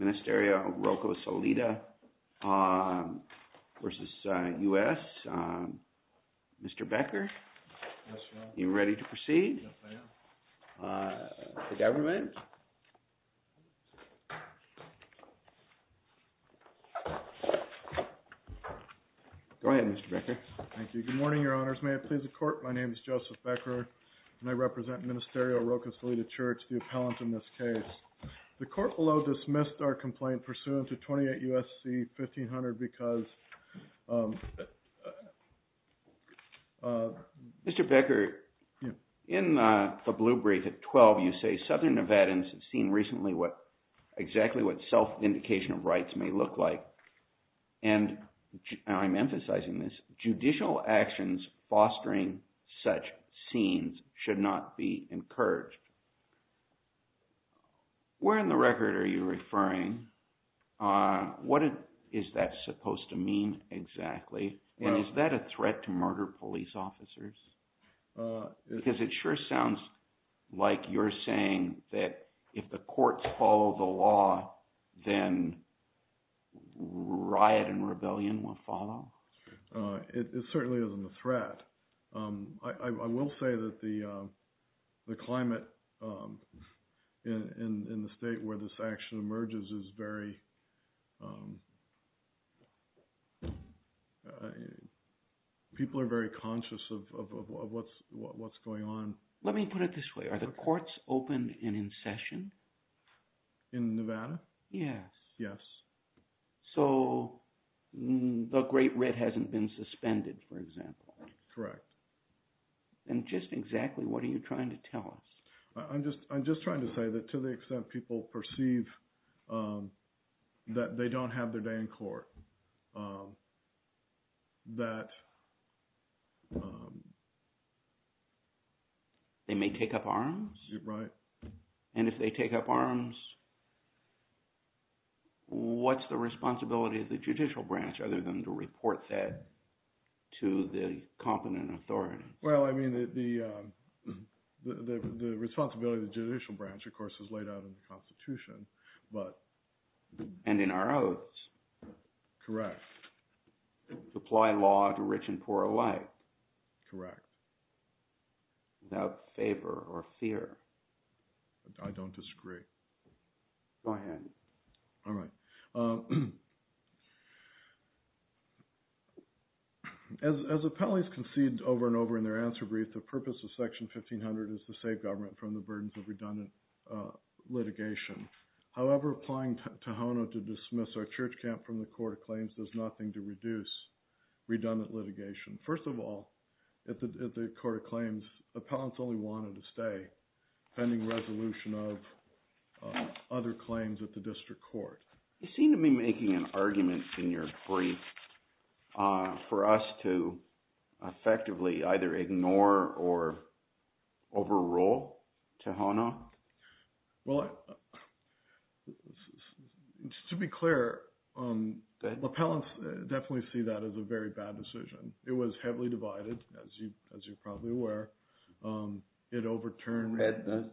Ministerio Roca Solida v. United States. Mr. Becker, are you ready to proceed? The government? Go ahead, Mr. Becker. Thank you. Good morning, Your Honors. May it please the Court. My name is Joseph Becker and I represent Ministerio Roca Solida Church, the appellant in this case. The Court below dismissed our complaint pursuant to 28 U.S.C. 1500 because... Mr. Becker, in the blue brief at 12, you say Southern Nevadans have seen recently what exactly what self-indication of rights may look like. And I'm emphasizing this. Judicial actions fostering such scenes should not be encouraged. Where in the record are you referring? What is that supposed to mean exactly? And is that a threat to murder police officers? Because it sure sounds like you're saying that if the courts follow the law, then riot and rebellion will follow. It certainly isn't a threat. I will say that the climate in the state where this action emerges is very... People are very conscious of what's going on. Let me put it this way. Are the courts open and in session? In Nevada? Yes. Yes. So the Great Red hasn't been suspended, for example? Correct. And just exactly what are you trying to tell us? I'm just trying to say that to the extent people perceive that they don't have their day in court, that... They may take up arms? Right. And if they take up arms, what's the responsibility of the judicial branch other than to report that to the competent authority? Well, I mean, the responsibility of the judicial branch, of course, is laid out in the Constitution, but... And in our oaths. Correct. To apply law to rich and poor alike. Correct. Without favor or fear. I don't disagree. Go ahead. All right. As the penalties conceded over and over in their answer brief, the purpose of Section 1500 is to save government from the burdens of redundant litigation. However, applying Tohono to dismiss our church camp from the court of claims does reduce redundant litigation. First of all, at the court of claims, appellants only wanted to stay pending resolution of other claims at the district court. You seem to be making an argument in your brief for us to effectively either ignore or overrule Tohono? Well, to be clear, appellants definitely see that as a very bad decision. It was heavily divided, as you're probably aware. It overturned... The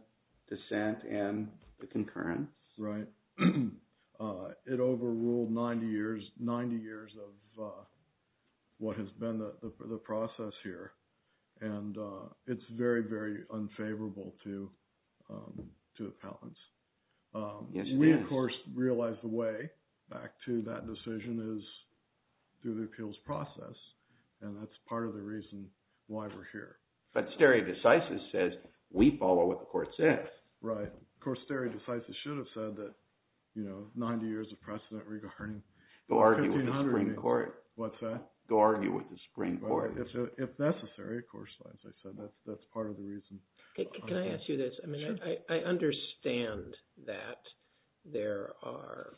dissent and the concurrence. Right. It overruled 90 years of what has been the process here. And it's very, very unfavorable to appellants. Yes, it is. We, of course, realize the way back to that decision is through the appeals process. And that's part of the reason why we're here. But stare decisis says we follow what the court says. Right. Of course, stare decisis should have said that 90 years of precedent regarding... Go argue with the Supreme Court. What's that? Go argue with the Supreme Court. If necessary, of course, as I said, that's part of the reason. Can I ask you this? I mean, I understand that there are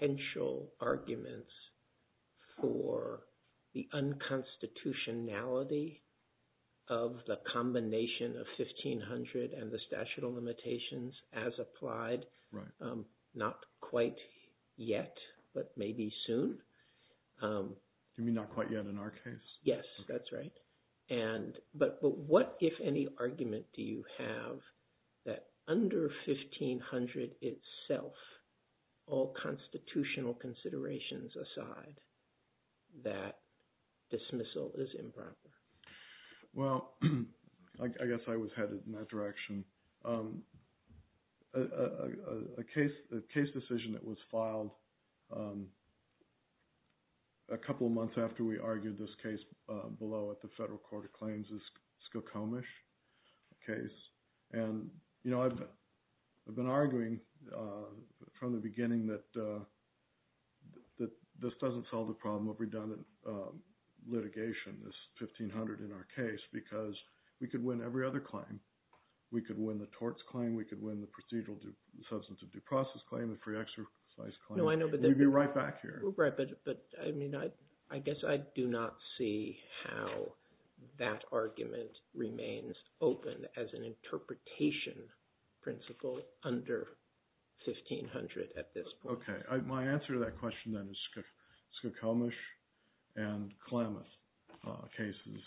potential arguments for the unconstitutionality of the combination of 1500 and the statute of limitations as applied. Right. Not quite yet, but maybe soon. Do you mean not quite yet in our case? Yes, that's right. But what, if any, argument do you have that under 1500 itself, all constitutional considerations aside, that dismissal is improper? Well, I guess I was headed in that direction. A case decision that was filed a couple of months after we argued this case below at the Federal Court of Claims is Skokomish case. And I've been arguing from the beginning that this doesn't solve the problem of redundant litigation, this 1500 in our case, because we could win every other claim. We could win the torts claim, we could win the procedural substance of due process claim, the free exercise claim. We'd be right back here. But I mean, I guess I do not see how that argument remains open as an interpretation principle under 1500 at this point. Okay. My answer to that question then is Skokomish and Klamath cases.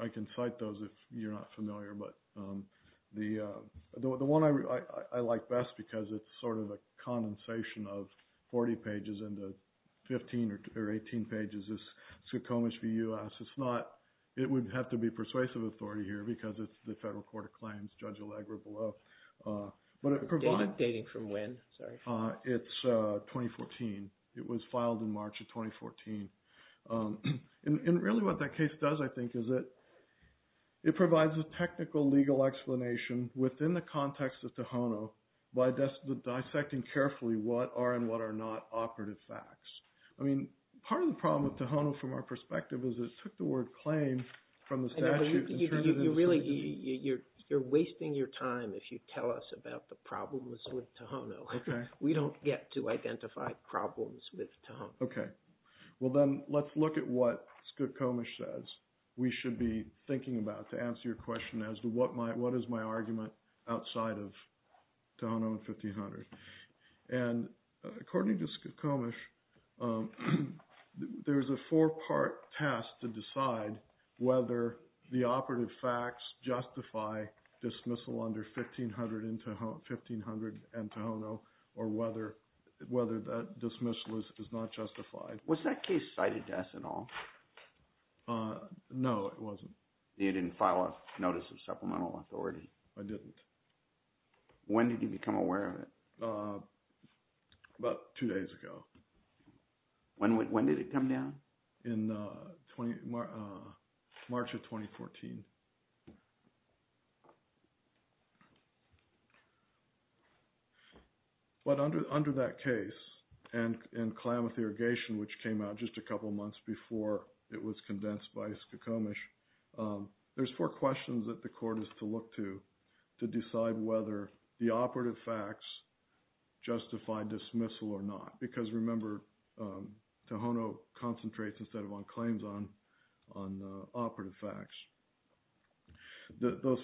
I can cite those if you're not familiar, but the one I like best because it's sort of a condensation of 40 pages into 15 or 18 pages is Skokomish v. U.S. It's not, it would have to be persuasive authority here because it's the Federal Court of Claims, Judge Allegra below. Dating from when, sorry? It's 2014. It was filed in March of 2014. And really what that case does, I think, is it provides a technical legal explanation within the context of Tohono by dissecting carefully what are and what are not operative facts. I mean, part of the problem with Tohono from our perspective is it took the word claim from the statute. You're wasting your time if you tell us about the problems with Tohono. Okay. We don't get to identify problems with Tohono. Okay. Well, then let's look at what Skokomish says we should be thinking about to answer your question as to what is my argument outside of whether the operative facts justify dismissal under 1500 and Tohono or whether that dismissal is not justified. Was that case cited to us at all? No, it wasn't. You didn't file a notice of supplemental authority? I didn't. When did you become aware of it? About two days ago. When did it come down? In March of 2014. But under that case and Klamath Irrigation, which came out just a couple of months before it was condensed by Skokomish, there's four questions that the court has to look to decide whether the operative facts justify dismissal or not. Because remember, Tohono concentrates instead of on claims on operative facts. Those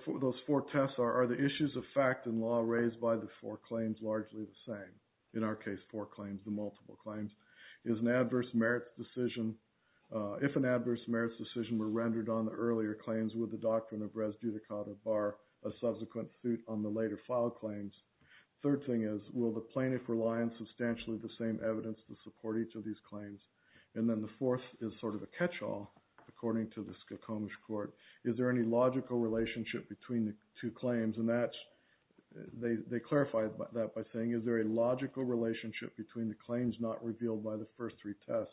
four tests are the issues of fact and law raised by the four claims largely the same. In our case, four claims. The multiple claims is an adverse merits decision. If an adverse merits decision were rendered on the later file claims, third thing is, will the plaintiff rely on substantially the same evidence to support each of these claims? And then the fourth is sort of a catch-all according to the Skokomish court. Is there any logical relationship between the two claims? And that's, they clarify that by saying, is there a logical relationship between the claims not revealed by the first three tests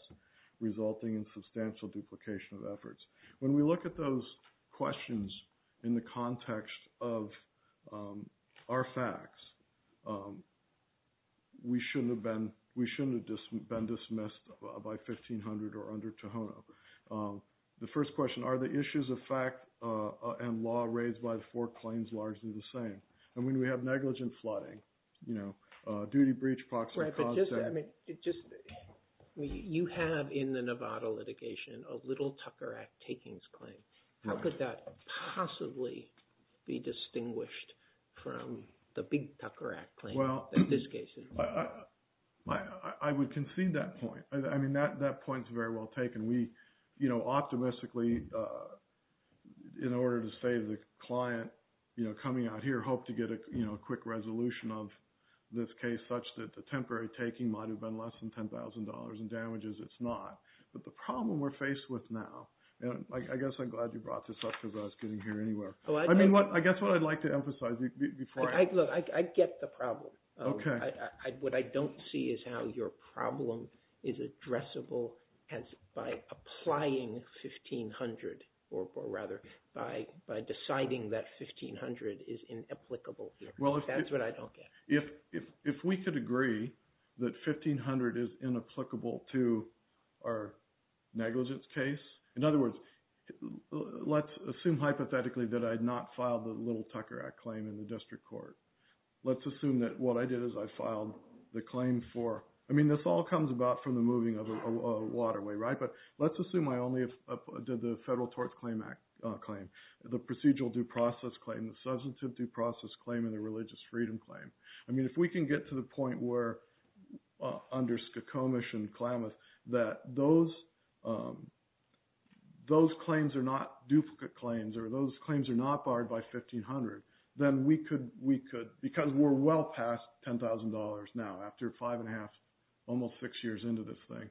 resulting in substantial duplication of efforts? When we look at those questions in the case, our facts, we shouldn't have been dismissed by 1500 or under Tohono. The first question, are the issues of fact and law raised by the four claims largely the same? And when we have negligent flooding, duty breach, proximate cause, etc. Right, but just, I mean, you have in the Nevada litigation a Little Tucker Act takings claim. How could that possibly be distinguished from the Big Tucker Act claim in this case? I would concede that point. I mean, that point is very well taken. We, you know, optimistically, in order to save the client, you know, coming out here, hope to get a quick resolution of this case such that the temporary taking might have been less than $10,000 in damages. It's not. But the problem we're faced with now, and I guess I'm glad you brought this up because I was getting here anywhere. I mean, I guess what I'd like to emphasize before I... Look, I get the problem. What I don't see is how your problem is addressable as by applying 1500 or rather by deciding that 1500 is inapplicable. That's what I don't get. If we could agree that 1500 is inapplicable to our negligence case, in other words, let's assume hypothetically that I had not filed the Little Tucker Act claim in the district court. Let's assume that what I did is I filed the claim for, I mean, this all comes about from the moving of a waterway, right? But let's assume I only did the Federal Tort Claim Act claim, the procedural due process claim, the substantive due process claim, and the religious freedom claim. I mean, if we can get to the point where under Skokomish and Klamath that those claims are not duplicate claims or those claims are not barred by 1500, then we could, because we're well past $10,000 now after five and a half, almost six years into this thing,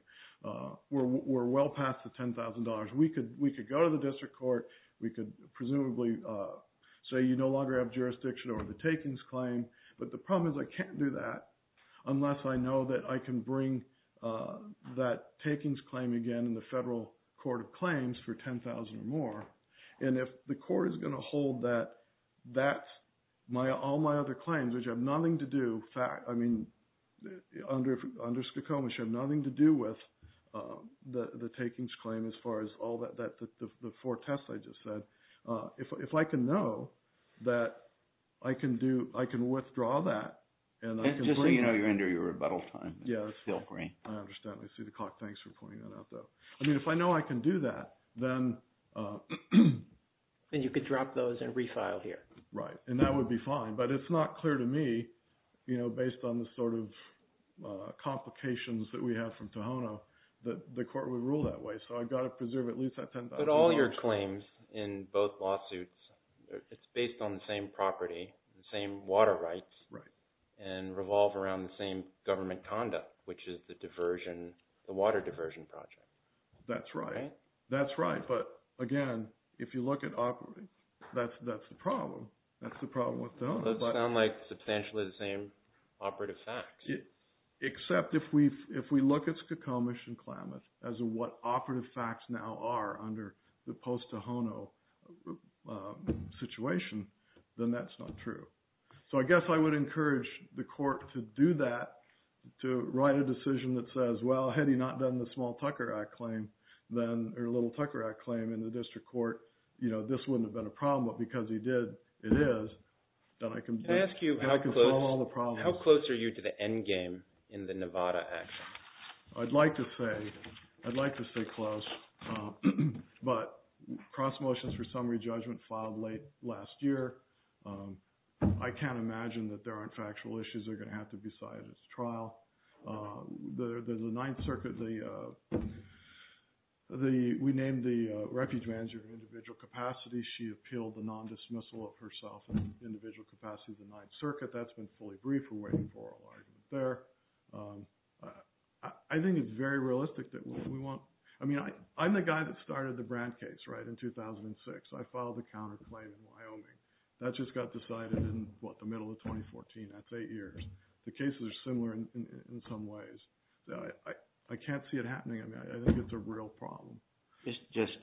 we're well past the $10,000. We could go to the district court. We could presumably say you no longer have jurisdiction over the takings claim. But the problem is I can't do that unless I know that I can bring that takings claim again in the Federal Court of Claims for 10,000 or more. And if the court is going to hold that all my other claims, which have nothing to do, I mean, under Skokomish have nothing to do with the takings claim as far as all that, the four tests I just said. If I can know that I can do, I can withdraw that, and I can bring... It's just so you know you're under your rebuttal time. Yes. It's still green. I understand. I see the clock. Thanks for pointing that out, though. I mean, if I know I can do that, then... Then you could drop those and refile here. Right. And that would be fine. But it's not clear to me, based on the sort of complications that we have from Tohono, that the court would rule that way. So I've got to preserve at least that $10,000. But all your claims in both lawsuits, it's based on the same property, the same water rights. Right. And revolve around the same government conduct, which is the diversion, the water diversion project. That's right. Right. That's right. But again, if you look at... That's the problem. That's the problem with Tohono. Those sound like substantially the same operative facts. Except if we look at Skokomish and Klamath as what operative facts now are under the post-Tohono situation, then that's not true. So I guess I would encourage the court to do that, to write a decision that says, well, had he not done the Small Tucker Act claim, then... Or Little Tucker Act claim in the district court, this wouldn't have been a problem. But because he did, it is, then I can... Can I ask you how close... I can solve all the problems. How close are you to the end game in the Nevada Act? I'd like to say close. But cross motions for summary judgment filed late last year. I can't imagine that there aren't factual issues that are going to have to be cited as trial. The Ninth Circuit, we named the refuge manager of individual capacity. She appealed the non-dismissal of herself and individual capacity of the Ninth Circuit. That's been fully briefed. We're waiting for oral argument there. I think it's very realistic that we want... I mean, I'm the guy that started the Brandt case, right, in 2006. I filed the counterclaim in 2006. That just got decided in, what, the middle of 2014. That's eight years. The cases are similar in some ways. I can't see it happening. I mean, I think it's a real problem. Just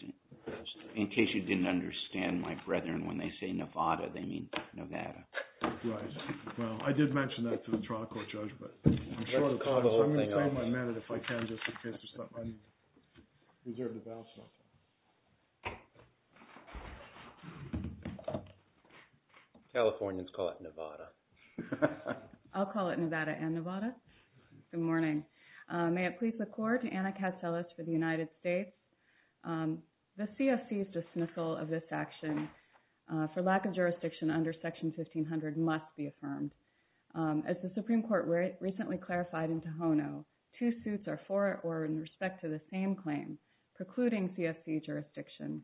in case you didn't understand, my brethren, when they say Nevada, they mean Nevada. Right. Well, I did mention that to the trial court judge, but I'm short of time, so I'm going to call my minute if I can, just in case there's something I need to reserve the balance for. Californians call it Nevada. I'll call it Nevada and Nevada. Good morning. May it please the Court, Anna Katselis for the United States. The CFC's dismissal of this action for lack of jurisdiction under Section 1500 must be affirmed. As the Supreme Court recently clarified in Tohono, two suits are for or in respect to the same claim, precluding CFC jurisdiction,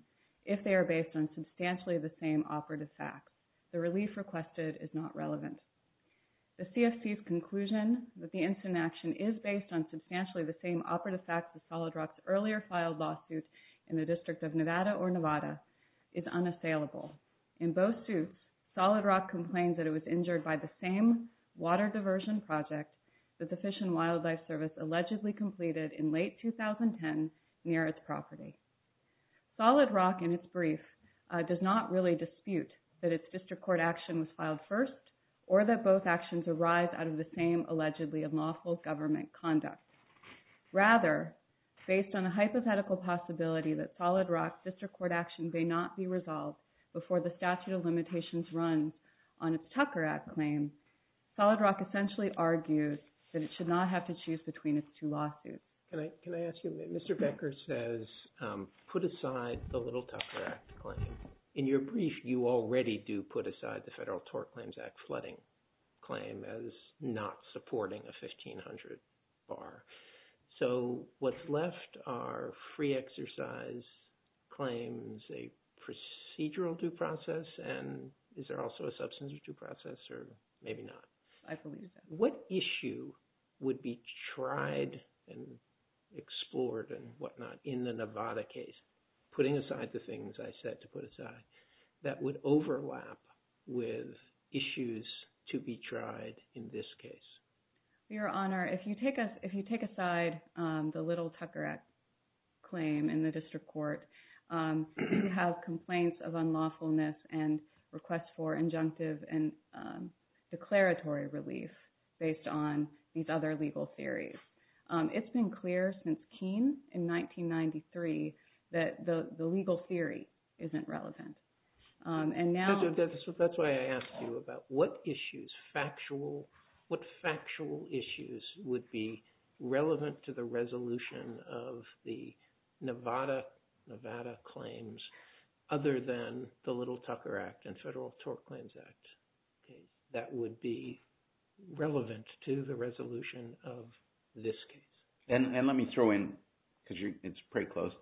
if they are based on substantially the same operative facts. The relief requested is not relevant. The CFC's conclusion that the incident action is based on substantially the same operative facts as Solid Rock's earlier filed lawsuit in the District of Nevada or Nevada is unassailable. In both suits, Solid Rock complained that it was injured by the same diversion project that the Fish and Wildlife Service allegedly completed in late 2010 near its property. Solid Rock, in its brief, does not really dispute that its district court action was filed first or that both actions arise out of the same allegedly unlawful government conduct. Rather, based on a hypothetical possibility that Solid Rock's district court action may not be argued, Solid Rock essentially argues that it should not have to choose between its two lawsuits. Can I ask you, Mr. Becker says, put aside the Little Tucker Act claim. In your brief, you already do put aside the Federal Tort Claims Act flooding claim as not supporting a 1500 bar. So what's left are free exercise claims, a procedural due process, and is there also substance due process or maybe not? I believe so. What issue would be tried and explored and whatnot in the Nevada case, putting aside the things I said to put aside, that would overlap with issues to be tried in this case? Your Honor, if you take us, if you take aside the Little Tucker Act claim in the district court, you have complaints of unlawfulness and requests for injunctive and declaratory relief based on these other legal theories. It's been clear since Keene in 1993 that the legal theory isn't relevant. That's why I asked you about what issues, factual, what factual issues would be relevant to the resolution of the Nevada claims other than the Little Tucker Act and Federal Tort Claims Act that would be relevant to the resolution of this case? And let me throw in, because it's pretty close,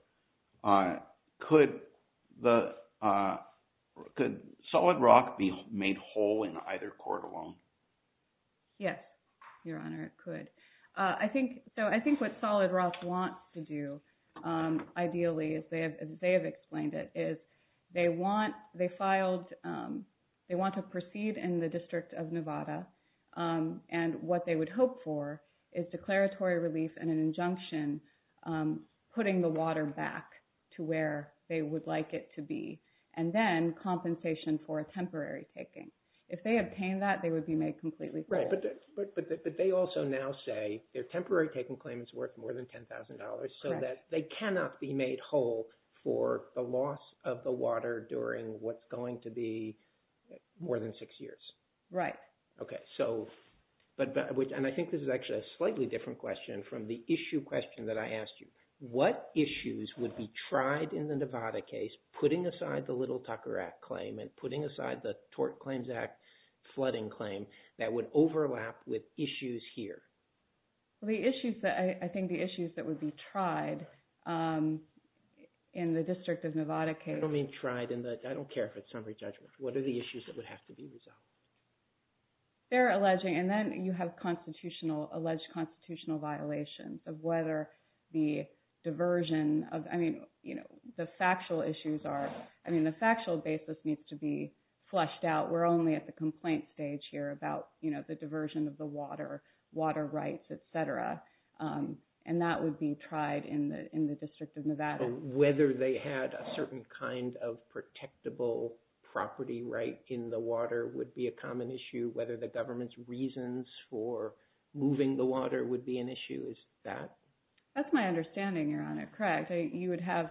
could Solid Rock be made whole in either court alone? Yes, Your Honor, it could. I think what Solid Rock wants to do, ideally, as they have explained it, is they want to proceed in the District of Nevada, and what they would hope for is declaratory relief and an injunction putting the water back to where they would like it to be, and then compensation for a temporary taking. If they obtain that, they would be made completely whole. Right, but they also now say their temporary taking claim is worth more than $10,000 so that they cannot be made whole for the loss of the water during what's going to be more than six years. Right. Okay, so, and I think this is actually a slightly different question from the issue question that I asked you. What issues would be tried in the Nevada case putting aside the Little Tucker Act claim and putting aside the Tort Claims Act flooding claim that would overlap with issues here? I think the issues that would be tried in the District of Nevada case... I don't mean tried in the... I don't care if it's summary judgment. What are the issues that would have to be resolved? They're alleging, and then you have constitutional, alleged constitutional violations of whether the diversion of, I mean, you know, the factual issues are, I mean, the factual basis needs to be flushed out. We're only at the complaint stage here about, you know, the diversion of the water, water rights, etc. And that would be tried in the District of Nevada. Whether they had a certain kind of protectable property right in the water would be a common issue. Whether the government's reasons for moving the water would be an issue. Is that... That's my understanding, Your Honor. Correct. You would have,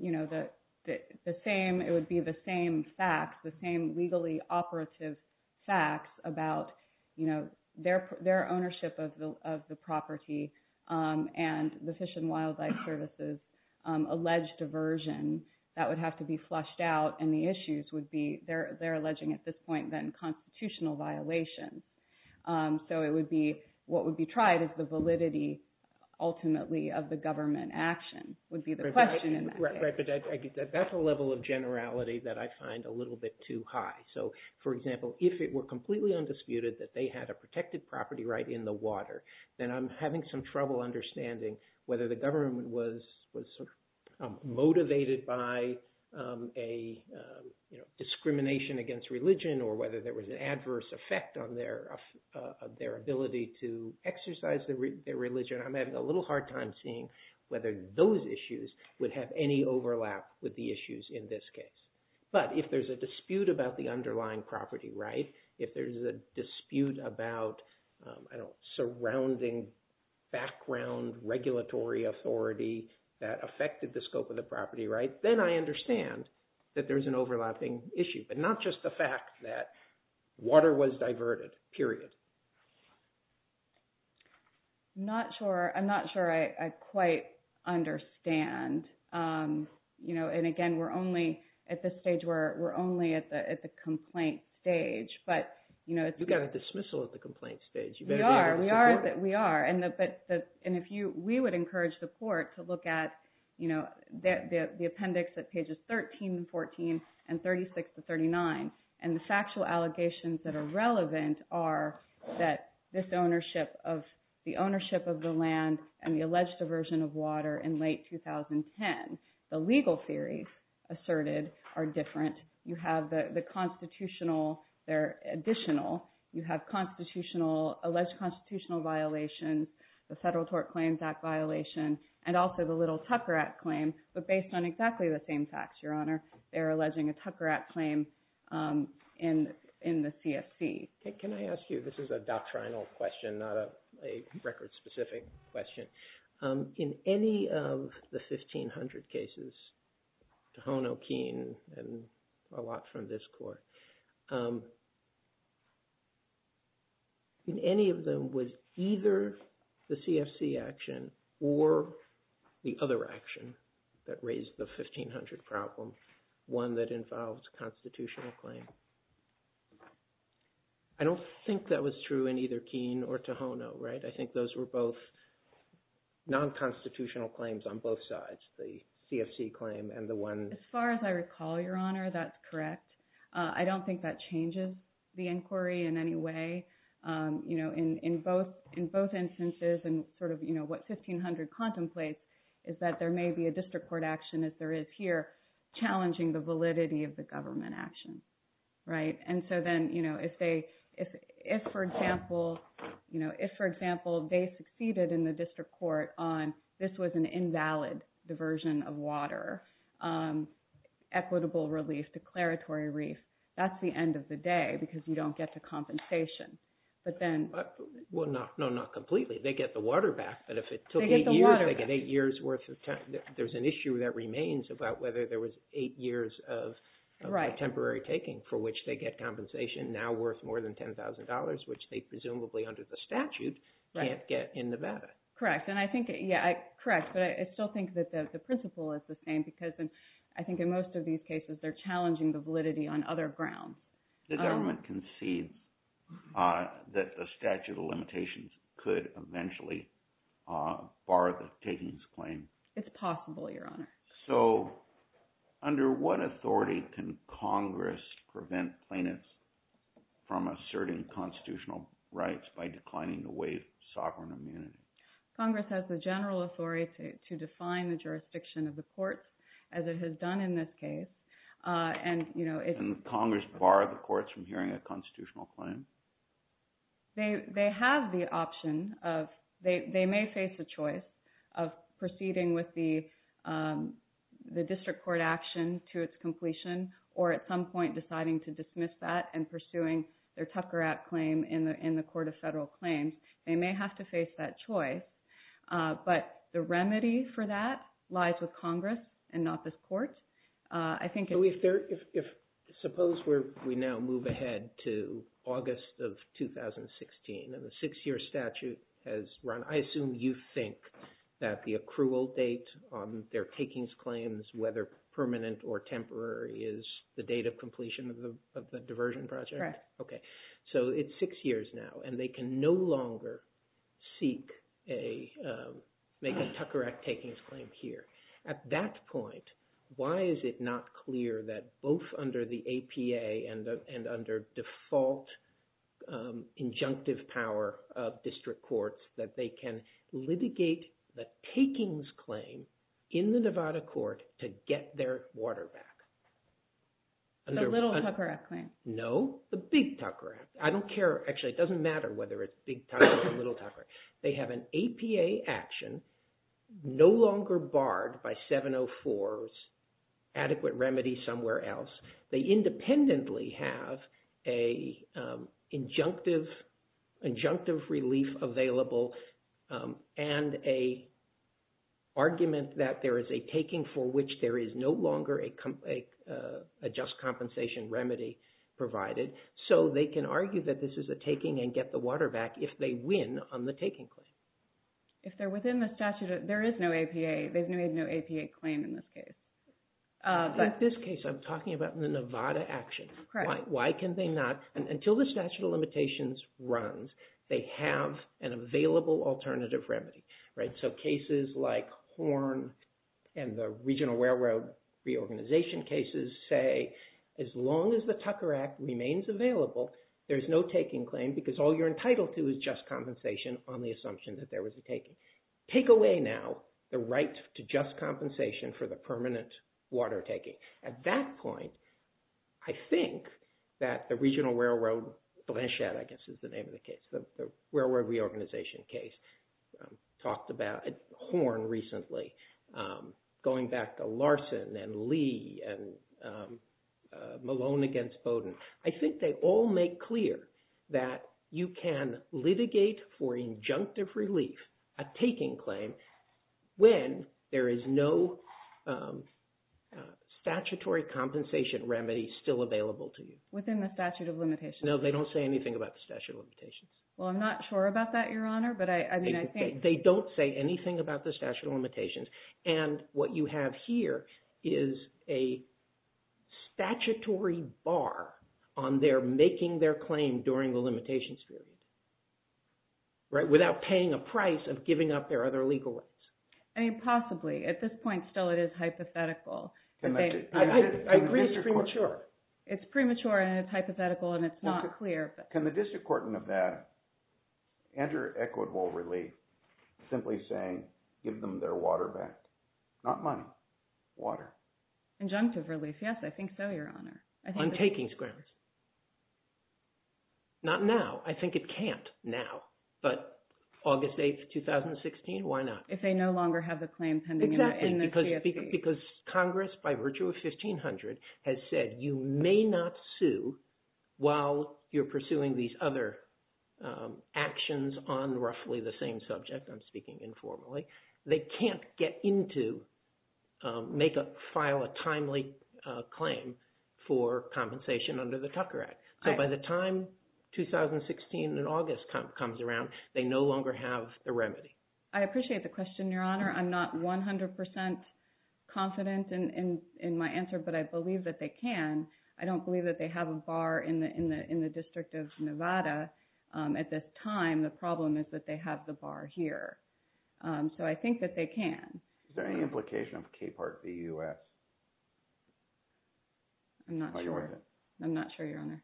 you know, the same, it would be the same facts, the same legally operative facts about, you know, their ownership of the property and the Fish and Wildlife Service's alleged diversion that would have to be flushed out. And the issues would be, they're alleging at this point, then constitutional violations. So it would be, what would be tried is the validity ultimately of the government action would be the question. Right, but that's a level of generality that I find a little bit too high. So, for example, if it were completely undisputed that they had a protected property right in the water, then I'm having some trouble understanding whether the government was sort of motivated by a, you know, discrimination against religion or whether there was an adverse effect on their ability to exercise their religion. I'm having a little hard time seeing whether those issues would have any overlap with the issues in this case. But if there's a dispute about the underlying property, right, if there's a dispute about, I don't know, surrounding background regulatory authority that affected the scope of the property, right, then I understand that there's an overlapping issue, but not just the fact that water was diverted, period. I'm not sure I quite understand. And again, we're only at this stage, we're only at the complaint stage, but, you know... You got a dismissal at the complaint stage. We are, we are. And if you, we would encourage the court to look at, you know, the appendix at pages 13 and 14 and 36 to 39. And the factual allegations that are relevant are that this ownership of, the ownership of the land and the alleged diversion of water in late 2010. The legal theories asserted are different. You have the constitutional, they're additional. You have constitutional, alleged constitutional violations, the Federal Tort Claims Act violation, and also the Little Tucker Act claim. But based on exactly the same facts, Your Honor, they're alleging a Tucker Act claim in the CFC. Can I ask you, this is a doctrinal question, not a record-specific question. In any of the 1,500 cases, to hone O'Keene and a lot from this court, in any of them was either the CFC action or the other action that raised the 1,500 problem, one that involves constitutional claim. I don't think that was true in either Keene or Tohono, right? I think those were both non-constitutional claims on both sides, the CFC claim and the one... As far as I recall, Your Honor, that's correct. I don't think that changes the inquiry in any way. In both instances and what 1,500 contemplates is that there may be a district court action, as there is here, challenging the validity of the government action, right? And so then if, for example, they succeeded in the district court on this was an invalid diversion of water, equitable relief, declaratory reef, that's the end of the day because you don't get the compensation, but then... Well, no, not completely. They get the water back, but if it took eight years, they get eight years worth of time. There's an issue that remains about whether there was eight years of temporary taking for which they get compensation now worth more than $10,000, which they presumably under the statute can't get in Nevada. Correct. And I think, yeah, correct. But I still think that the principle is the same because I think in most of these cases, they're challenging the validity on other grounds. The government concedes that the statute of limitations could eventually bar the takings claim. It's possible, Your Honor. So under what authority can Congress prevent plaintiffs from asserting constitutional rights by declining to waive sovereign immunity? Congress has the general authority to define the jurisdiction of the courts as it has done in this case. And it's... And Congress bar the courts from hearing a constitutional claim? They have the option of... They may face a choice of proceeding with the district court action to its completion, or at some point deciding to dismiss that and pursuing their Tucker Act claim in the Court of Federal Claims. They may have to face that choice, but the remedy for that lies with Congress and not this court. I think... Suppose we now move ahead to August of 2016 and the six-year statute has run. I assume you think that the accrual date on their takings claims, whether permanent or temporary, is the date of completion of the diversion project? Correct. Okay. So it's six years now, and they can no longer make a Tucker Act takings claim here. At that point, why is it not clear that both under the APA and under default injunctive power of district courts that they can litigate the takings claim in the Nevada Court to get their water back? The little Tucker Act claim. No, the big Tucker Act. I don't care. Actually, it doesn't matter whether it's big Tucker or little Tucker. They have an APA action no longer barred by 704's adequate remedy somewhere else. They independently have an injunctive relief available and an argument that there is a just compensation remedy provided. So they can argue that this is a taking and get the water back if they win on the taking claim. If they're within the statute, there is no APA. They've made no APA claim in this case. In this case, I'm talking about the Nevada action. Why can they not? Until the statute of limitations runs, they have an available alternative remedy. So cases like Horn and the regional railroad reorganization cases say, as long as the Tucker Act remains available, there's no taking claim because all you're entitled to is just compensation on the assumption that there was a taking. Take away now the right to just compensation for the permanent water taking. At that point, I think that the regional railroad, Blanchette I guess is the case. The railroad reorganization case talked about Horn recently. Going back to Larson and Lee and Malone against Bowdoin. I think they all make clear that you can litigate for injunctive relief, a taking claim, when there is no statutory compensation remedy still available to you. Within the statute of limitations. They don't say anything about the statute of limitations. Well, I'm not sure about that, Your Honor. They don't say anything about the statute of limitations. And what you have here is a statutory bar on their making their claim during the limitations period without paying a price of giving up their other legal rights. I mean, possibly. At this point still, it is hypothetical. I agree it's premature. It's premature and it's hypothetical and it's not clear. Can the district court in Nevada enter equitable relief simply saying, give them their water back? Not money, water. Injunctive relief. Yes, I think so, Your Honor. On taking scrimmage. Not now. I think it can't now, but August 8th, 2016, why not? If they no longer have the claim pending in the CFP. Because Congress, by virtue of 1500, has said you may not sue while you're pursuing these other actions on roughly the same subject. I'm speaking informally. They can't get into make a file, a timely claim for compensation under the Tucker Act. So by the time 2016 and August comes around, they no longer have the remedy. I appreciate the question, Your Honor. I'm not 100% confident in my answer, but I believe that they can. I don't believe that they have a bar in the district of Nevada at this time. The problem is that they have the bar here. So I think that they can. Is there any implication of K part BUS? I'm not sure, Your Honor.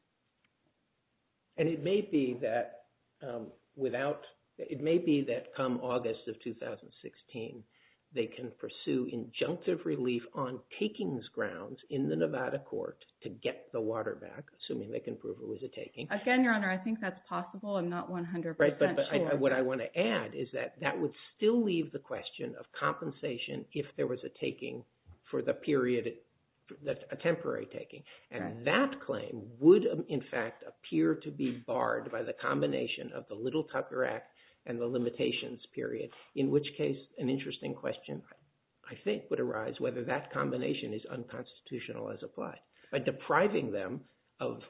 And it may be that come August of 2016, they can pursue injunctive relief on takings grounds in the Nevada court to get the water back, assuming they can prove it was a taking. Again, Your Honor, I think that's possible. I'm not 100% sure. Right, but what I want to add is that that would still leave the question of compensation if there was a taking for the period, a temporary taking. And that claim would, in fact, appear to be barred by the combination of the Little Tucker Act and the limitations period, in which case an interesting question, I think, would arise whether that combination is unconstitutional as applied by depriving them of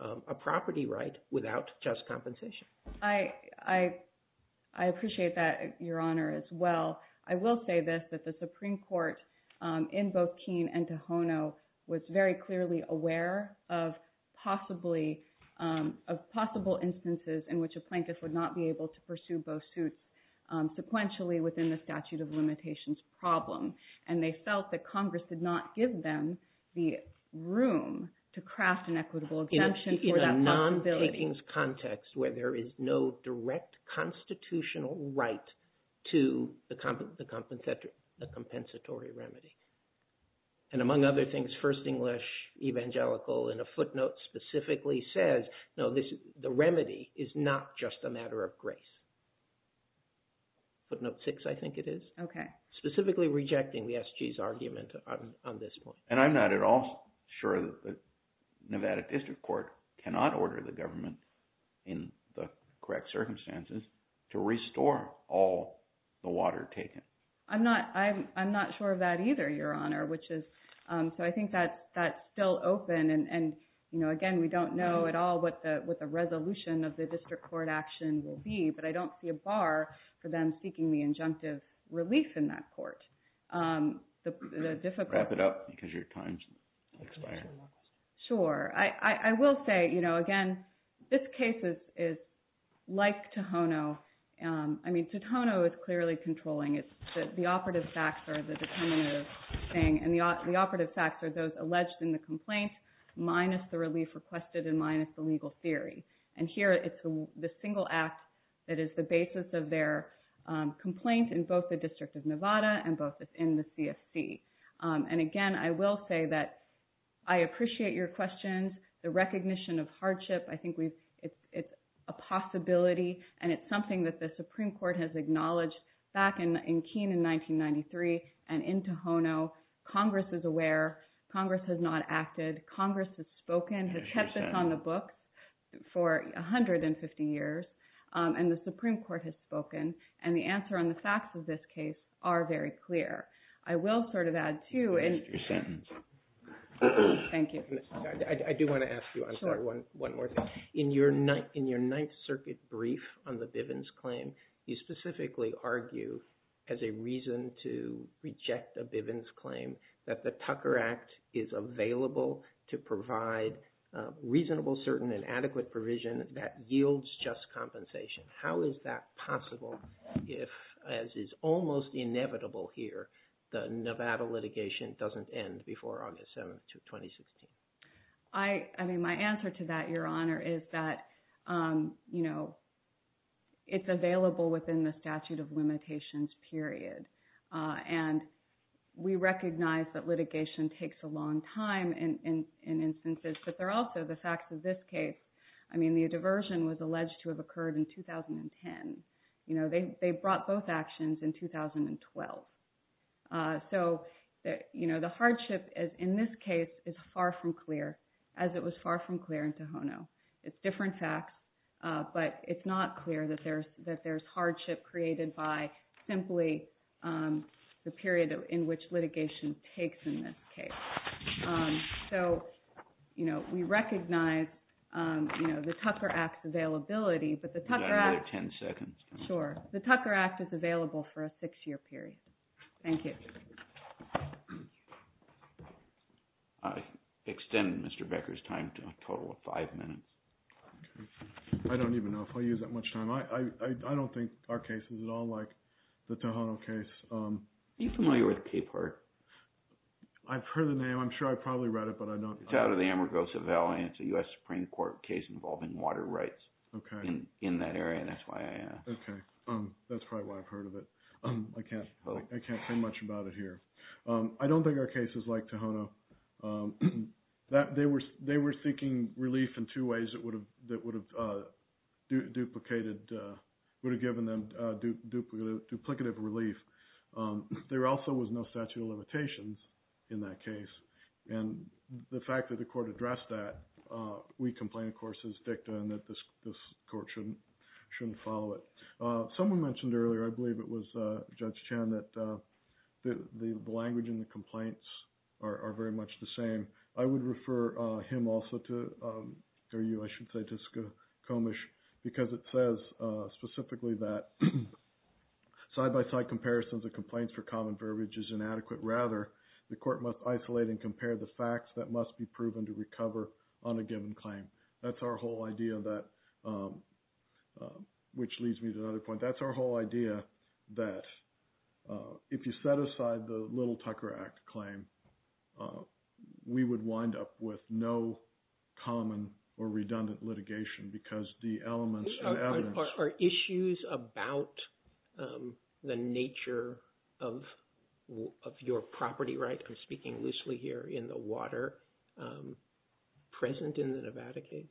a property right without just compensation. I will say this, that the Supreme Court in both Keene and Tohono was very clearly aware of possible instances in which a plaintiff would not be able to pursue both suits sequentially within the statute of limitations problem. And they felt that Congress did not give them the room to craft an equitable exemption. In a non-takings context where there is no direct constitutional right to the compensatory remedy. And among other things, First English Evangelical in a footnote specifically says, no, the remedy is not just a matter of grace. Footnote six, I think it is. Okay. Specifically rejecting the SG's argument on this point. I'm not at all sure that the Nevada District Court cannot order the government in the correct circumstances to restore all the water taken. I'm not sure of that either, Your Honor. So I think that's still open. Again, we don't know at all what the resolution of the district court action will be. But I don't see a bar for them seeking the injunctive relief in that court. Wrap it up because your time is expiring. Sure. I will say, you know, again, this case is like Tohono. I mean, Tohono is clearly controlling. It's the operative facts are the determinative thing. And the operative facts are those alleged in the complaint minus the relief requested and minus the legal theory. And here it's the single act that is the basis of their complaint in both the District of Nevada and both in the CFC. And again, I will say that I appreciate your questions. The recognition of hardship, I think it's a possibility. And it's something that the Supreme Court has acknowledged back in Keene in 1993. And in Tohono, Congress is aware. Congress has not acted. Congress has spoken, has kept this on the books for 150 years. And the Supreme Court has spoken. And the answer on the facts of this case are very clear. I will sort of add, too. Thank you. I do want to ask you, I'm sorry, one more thing. In your Ninth Circuit brief on the Bivens claim, you specifically argue as a reason to reject a Bivens claim that the Tucker Act is available to provide reasonable, certain, and adequate provision that yields just compensation. How is that possible if, as is almost inevitable here, the Nevada litigation doesn't end before August 7th, 2016? I mean, my answer to that, Your Honor, is that, you know, it's available within the statute of limitations period. And we recognize that litigation takes a long time in instances. But there are also the facts of this case. I mean, the diversion was alleged to have occurred in 2010. You know, they brought both actions in 2012. So, you know, the hardship in this case is far from clear, as it was far from clear in Tohono. It's different facts. But it's not clear that there's hardship created by simply the period in which litigation takes in this case. So, you know, we recognize, you know, the Tucker Act's availability. But the Tucker Act... You've got another 10 seconds. Sure. The Tucker Act is available for a six-year period. Thank you. I extend Mr. Becker's time to a total of five minutes. I don't even know if I use that much time. I don't think our case is at all like the Tohono case. Are you familiar with Capehart? I've heard the name. I'm sure I've probably read it, but I don't... It's out of the Amargosa Valley. It's a U.S. Supreme Court case involving water rights in that area. And that's why I asked. Okay. That's probably why I've heard of it. I can't say much about it here. I don't think our case is like Tohono. They were seeking relief in two ways that would have duplicated... would have given them duplicative relief. There also was no statute of limitations in that case. And the fact that the court addressed that, we complain, of course, as dicta and that this court shouldn't follow it. Someone mentioned earlier, I believe it was Judge Chan, that the language in the complaints are very much the same. I would refer him also to... or you, I should say, to Skokomish, because it says specifically that side-by-side comparisons of complaints for common verbiage is inadequate. Rather, the court must isolate and compare the facts that must be proven to recover on a given claim. That's our whole idea that... which leads me to another point. That's our whole idea that if you set aside the Little Tucker Act claim, we would wind up with no common or redundant litigation because the elements and evidence... Are issues about the nature of your property rights, I'm speaking loosely here, in the water present in the Nevada case?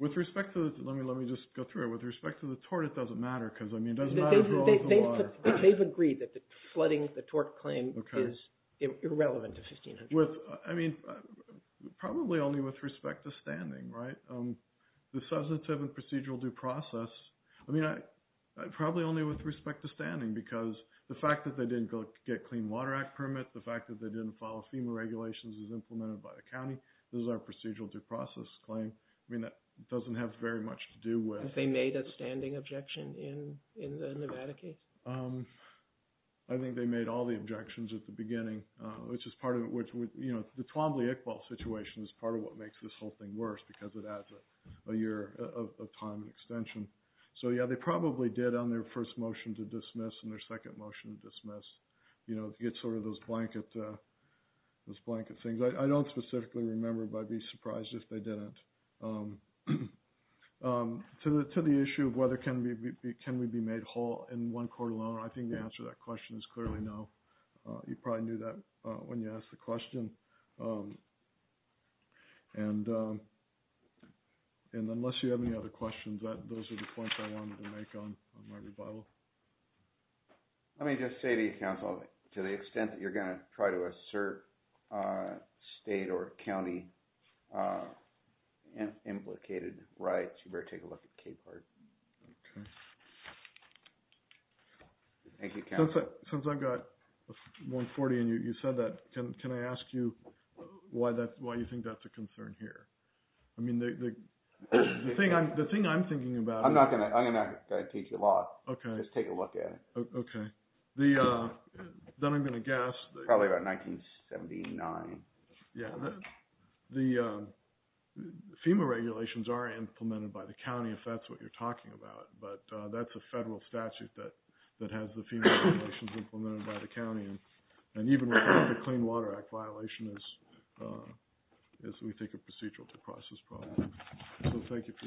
With respect to... let me just go through it. With respect to the tort, it doesn't matter, because it doesn't matter if you're all over the water. They've agreed that flooding the tort claim is irrelevant to 1500. I mean, probably only with respect to standing, right? The substantive and procedural due process, I mean, probably only with respect to standing, because the fact that they didn't get Clean Water Act permit, the fact that they didn't follow FEMA regulations as implemented by the county, this is our procedural due process claim. I mean, that doesn't have very much to do with... Have they made a standing objection in the Nevada case? I think they made all the objections at the beginning, which is part of it, which would, you know, the Twombly-Iqbal situation is part of what makes this whole thing worse, because it adds a year of time and extension. So yeah, they probably did on their first motion to dismiss and their second motion to dismiss, you know, to get sort of those blanket things. I don't specifically remember, but I'd be surprised if they didn't. To the issue of whether can we be made whole in one court alone, I think the answer to that question is clearly no. You probably knew that when you asked the question. And unless you have any other questions, those are the points I wanted to make on my rebuttal. Let me just say to you, counsel, to the extent that you're going to try to assert state or county implicated rights, you better take a look at Cape Heart. Thank you, counsel. Since I've got 140 and you said that, can I ask you why you think that's a concern here? I mean, the thing I'm thinking about... I'm not going to teach you a lot. Okay. Just take a look at it. Okay. Then I'm going to guess... Probably about 1979. Yeah, the FEMA regulations are implemented by the county, if that's what you're talking about, but that's a federal statute that has the FEMA regulations implemented by the county. And even with the Clean Water Act violation, is we take a procedural to process problems. So thank you for your time.